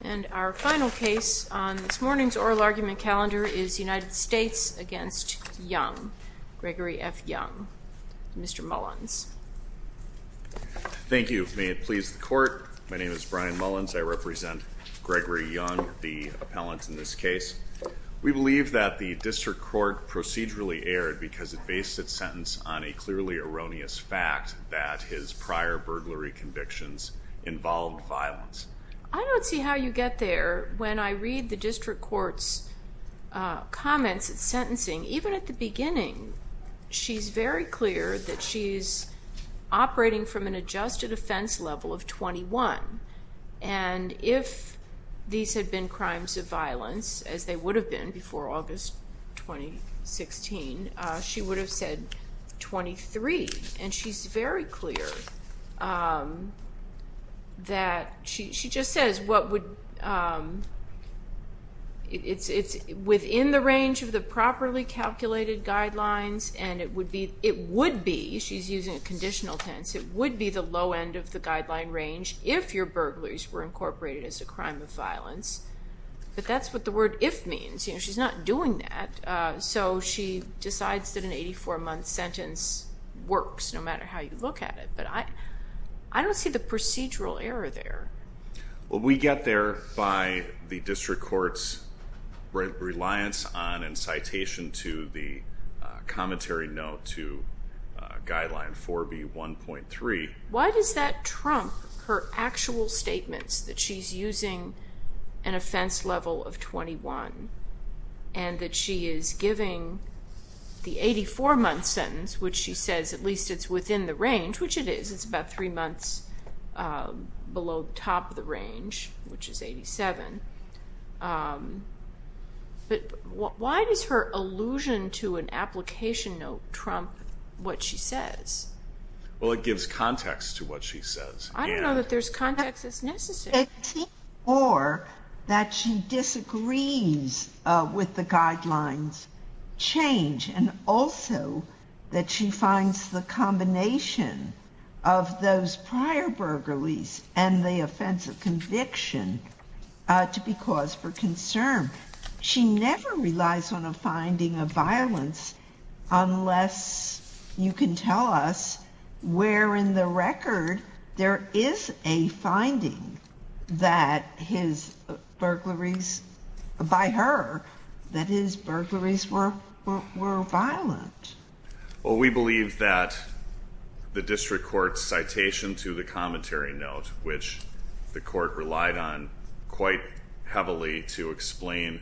And our final case on this morning's oral argument calendar is United States v. Young. Gregory F. Young. Mr. Mullins. Thank you. May it please the court, my name is Brian Mullins. I represent Gregory Young, the appellant in this case. We believe that the district court procedurally erred because it based its sentence on a clearly erroneous fact that his prior burglary convictions involved violence. I don't see how you get there. When I read the district court's comments at sentencing, even at the beginning, she's very clear that she's operating from an adjusted offense level of 21. And if these had been crimes of violence, as they would have been before August 2016, she would have said 23. And she's very clear that she just says what would, it's within the range of the properly calculated guidelines, and it would be, she's using a conditional tense, it would be the low end of the guideline range if your burglaries were incorporated as a crime of violence. But that's what the word if means. She's not doing that. So she decides that an 84-month sentence works, no matter how you look at it. But I don't see the procedural error there. Well, we get there by the district court's reliance on and citation to the commentary note to guideline 4B1.3. Why does that trump her actual statements that she's using an offense level of 21 and that she is giving the 84-month sentence, which she says at least it's within the range, which it is, it's about three months below the top of the range, which is 87. But why does her allusion to an application note trump what she says? Well, it gives context to what she says. I don't know that there's context that's necessary. It seems more that she disagrees with the guidelines change and also that she finds the combination of those prior burglaries and the offense of conviction to be cause for concern. She never relies on a finding of violence unless you can tell us where in the record there is a finding that his burglaries, by her, that his burglaries were violent. Well, we believe that the district court's citation to the commentary note, which the court relied on quite heavily to explain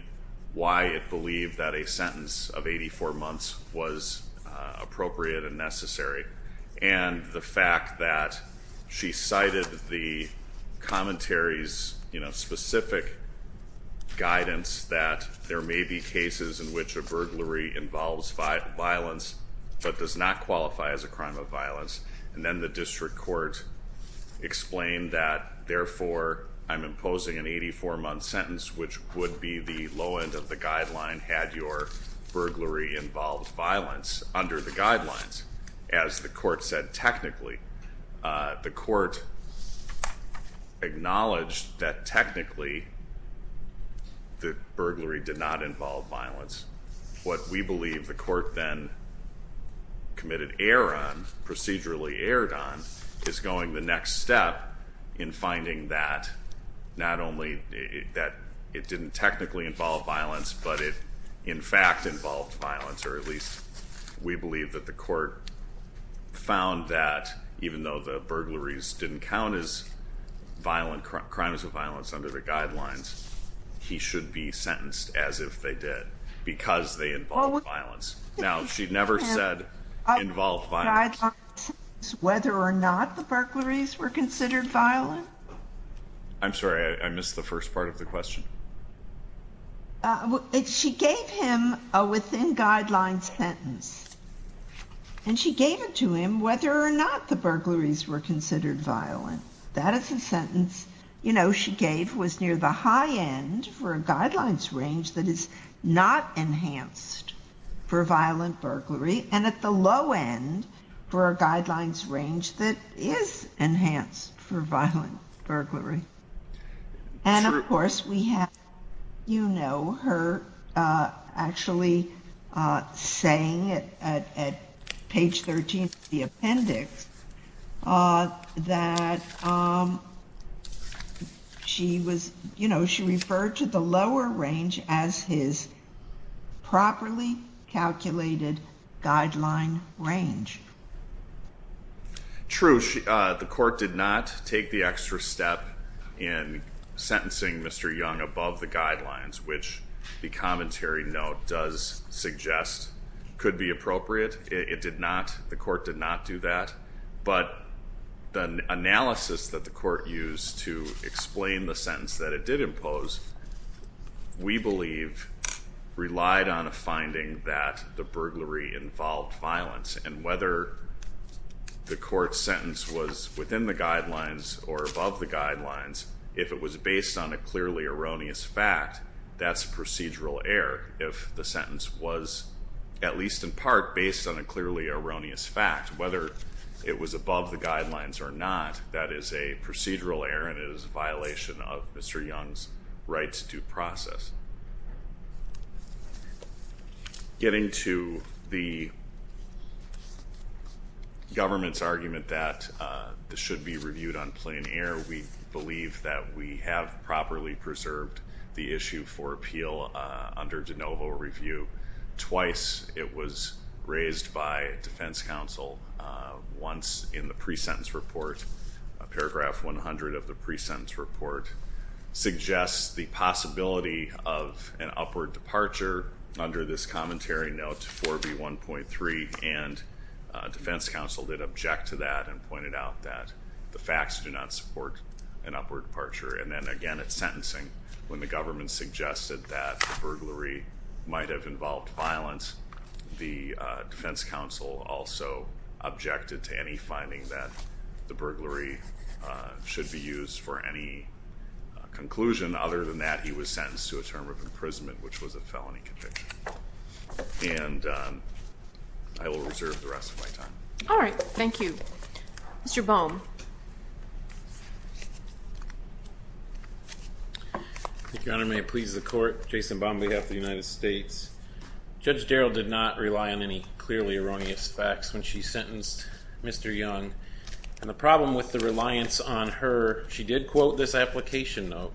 why it believed that a sentence of 84 months was appropriate and necessary. And the fact that she cited the commentary's specific guidance that there may be cases in which a burglary involves violence but does not qualify as a crime of violence. And then the district court explained that, therefore, I'm imposing an 84-month sentence, which would be the low end of the guideline had your burglary involved violence under the guidelines. As the court said technically, the court acknowledged that technically the burglary did not involve violence. What we believe the court then committed error on, procedurally erred on, is going the next step in finding that not only that it didn't technically involve violence, but it in fact involved violence. Or at least we believe that the court found that even though the burglaries didn't count as violent crimes of violence under the guidelines, he should be sentenced as if they did because they involved violence. Now, she never said involved violence. Whether or not the burglaries were considered violent? I'm sorry, I missed the first part of the question. She gave him a within guidelines sentence. And she gave it to him whether or not the burglaries were considered violent. That is a sentence, you know, she gave was near the high end for a guidelines range that is not enhanced for violent burglary and at the low end for a guidelines range that is enhanced for violent burglary. And of course we have, you know, her actually saying at page 13 of the appendix that she was, you know, she referred to the lower range as his properly calculated guideline range. True. The court did not take the extra step in sentencing Mr. Young above the guidelines, which the commentary note does suggest could be appropriate. It did not. The court did not do that. But the analysis that the court used to explain the sentence that it did impose, we believe, relied on a finding that the burglary involved violence. And whether the court sentence was within the guidelines or above the guidelines, if it was based on a clearly erroneous fact, that's procedural error. If the sentence was at least in part based on a clearly erroneous fact, whether it was above the guidelines or not, that is a procedural error and it is a violation of Mr. Young's right to due process. Getting to the government's argument that this should be reviewed on plain air, we believe that we have properly preserved the issue for appeal under de novo review. Twice it was raised by defense counsel. Once in the pre-sentence report, paragraph 100 of the pre-sentence report suggests the possibility of an upward departure under this commentary note 4B1.3. And defense counsel did object to that and pointed out that the facts do not support an upward departure. And then again, it's sentencing. When the government suggested that the burglary might have involved violence, the defense counsel also objected to any finding that the burglary should be used for any conclusion. Other than that, he was sentenced to a term of imprisonment, which was a felony conviction. And I will reserve the rest of my time. All right. Thank you. Mr. Boehm. Thank you, Your Honor. May it please the court. Jason Boehm on behalf of the United States. Judge Darrell did not rely on any clearly erroneous facts when she sentenced Mr. Young. And the problem with the reliance on her, she did quote this application note.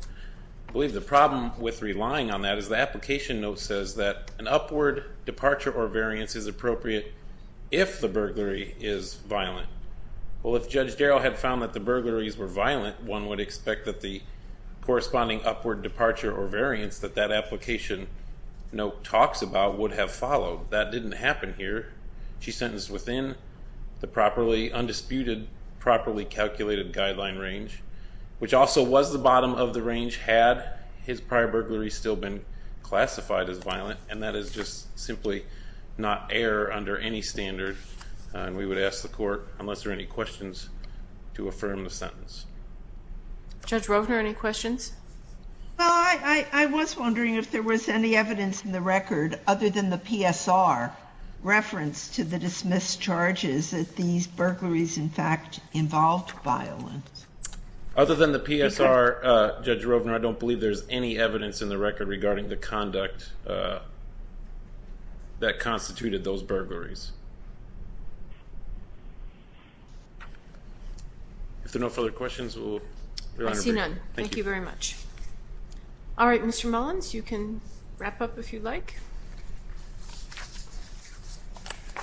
I believe the problem with relying on that is the application note says that an upward departure or variance is appropriate if the burglary is violent. Well, if Judge Darrell had found that the burglaries were violent, one would expect that the corresponding upward departure or variance that that application note talks about would have followed. That didn't happen here. She's sentenced within the properly undisputed, properly calculated guideline range, which also was the bottom of the range had his prior burglary still been classified as violent. And that is just simply not error under any standard. And we would ask the court, unless there are any questions, to affirm the sentence. Judge Rovner, any questions? Well, I was wondering if there was any evidence in the record other than the PSR reference to the dismissed charges that these burglaries, in fact, involved violence. Other than the PSR, Judge Rovner, I don't believe there's any evidence in the record regarding the conduct that constituted those burglaries. If there are no further questions, we'll... See none. Thank you very much. All right, Mr. Mullins, you can wrap up if you'd like. I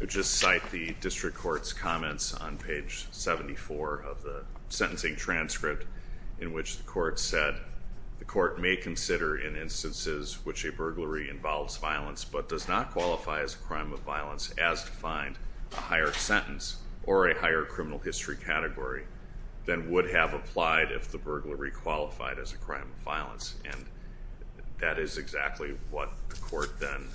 would just cite the district court's comments on page 74 of the sentencing transcript in which the court said, which a burglary involves violence but does not qualify as a crime of violence as defined a higher sentence or a higher criminal history category, then would have applied if the burglary qualified as a crime of violence. And that is exactly what the court then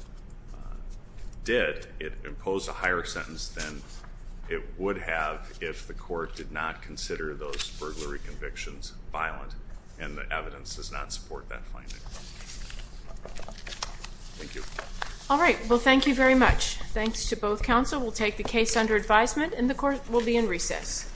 did. It imposed a higher sentence than it would have if the court did not consider those burglary convictions violent. And the evidence does not support that finding. Thank you. All right. Well, thank you very much. Thanks to both counsel. We'll take the case under advisement and the court will be in recess.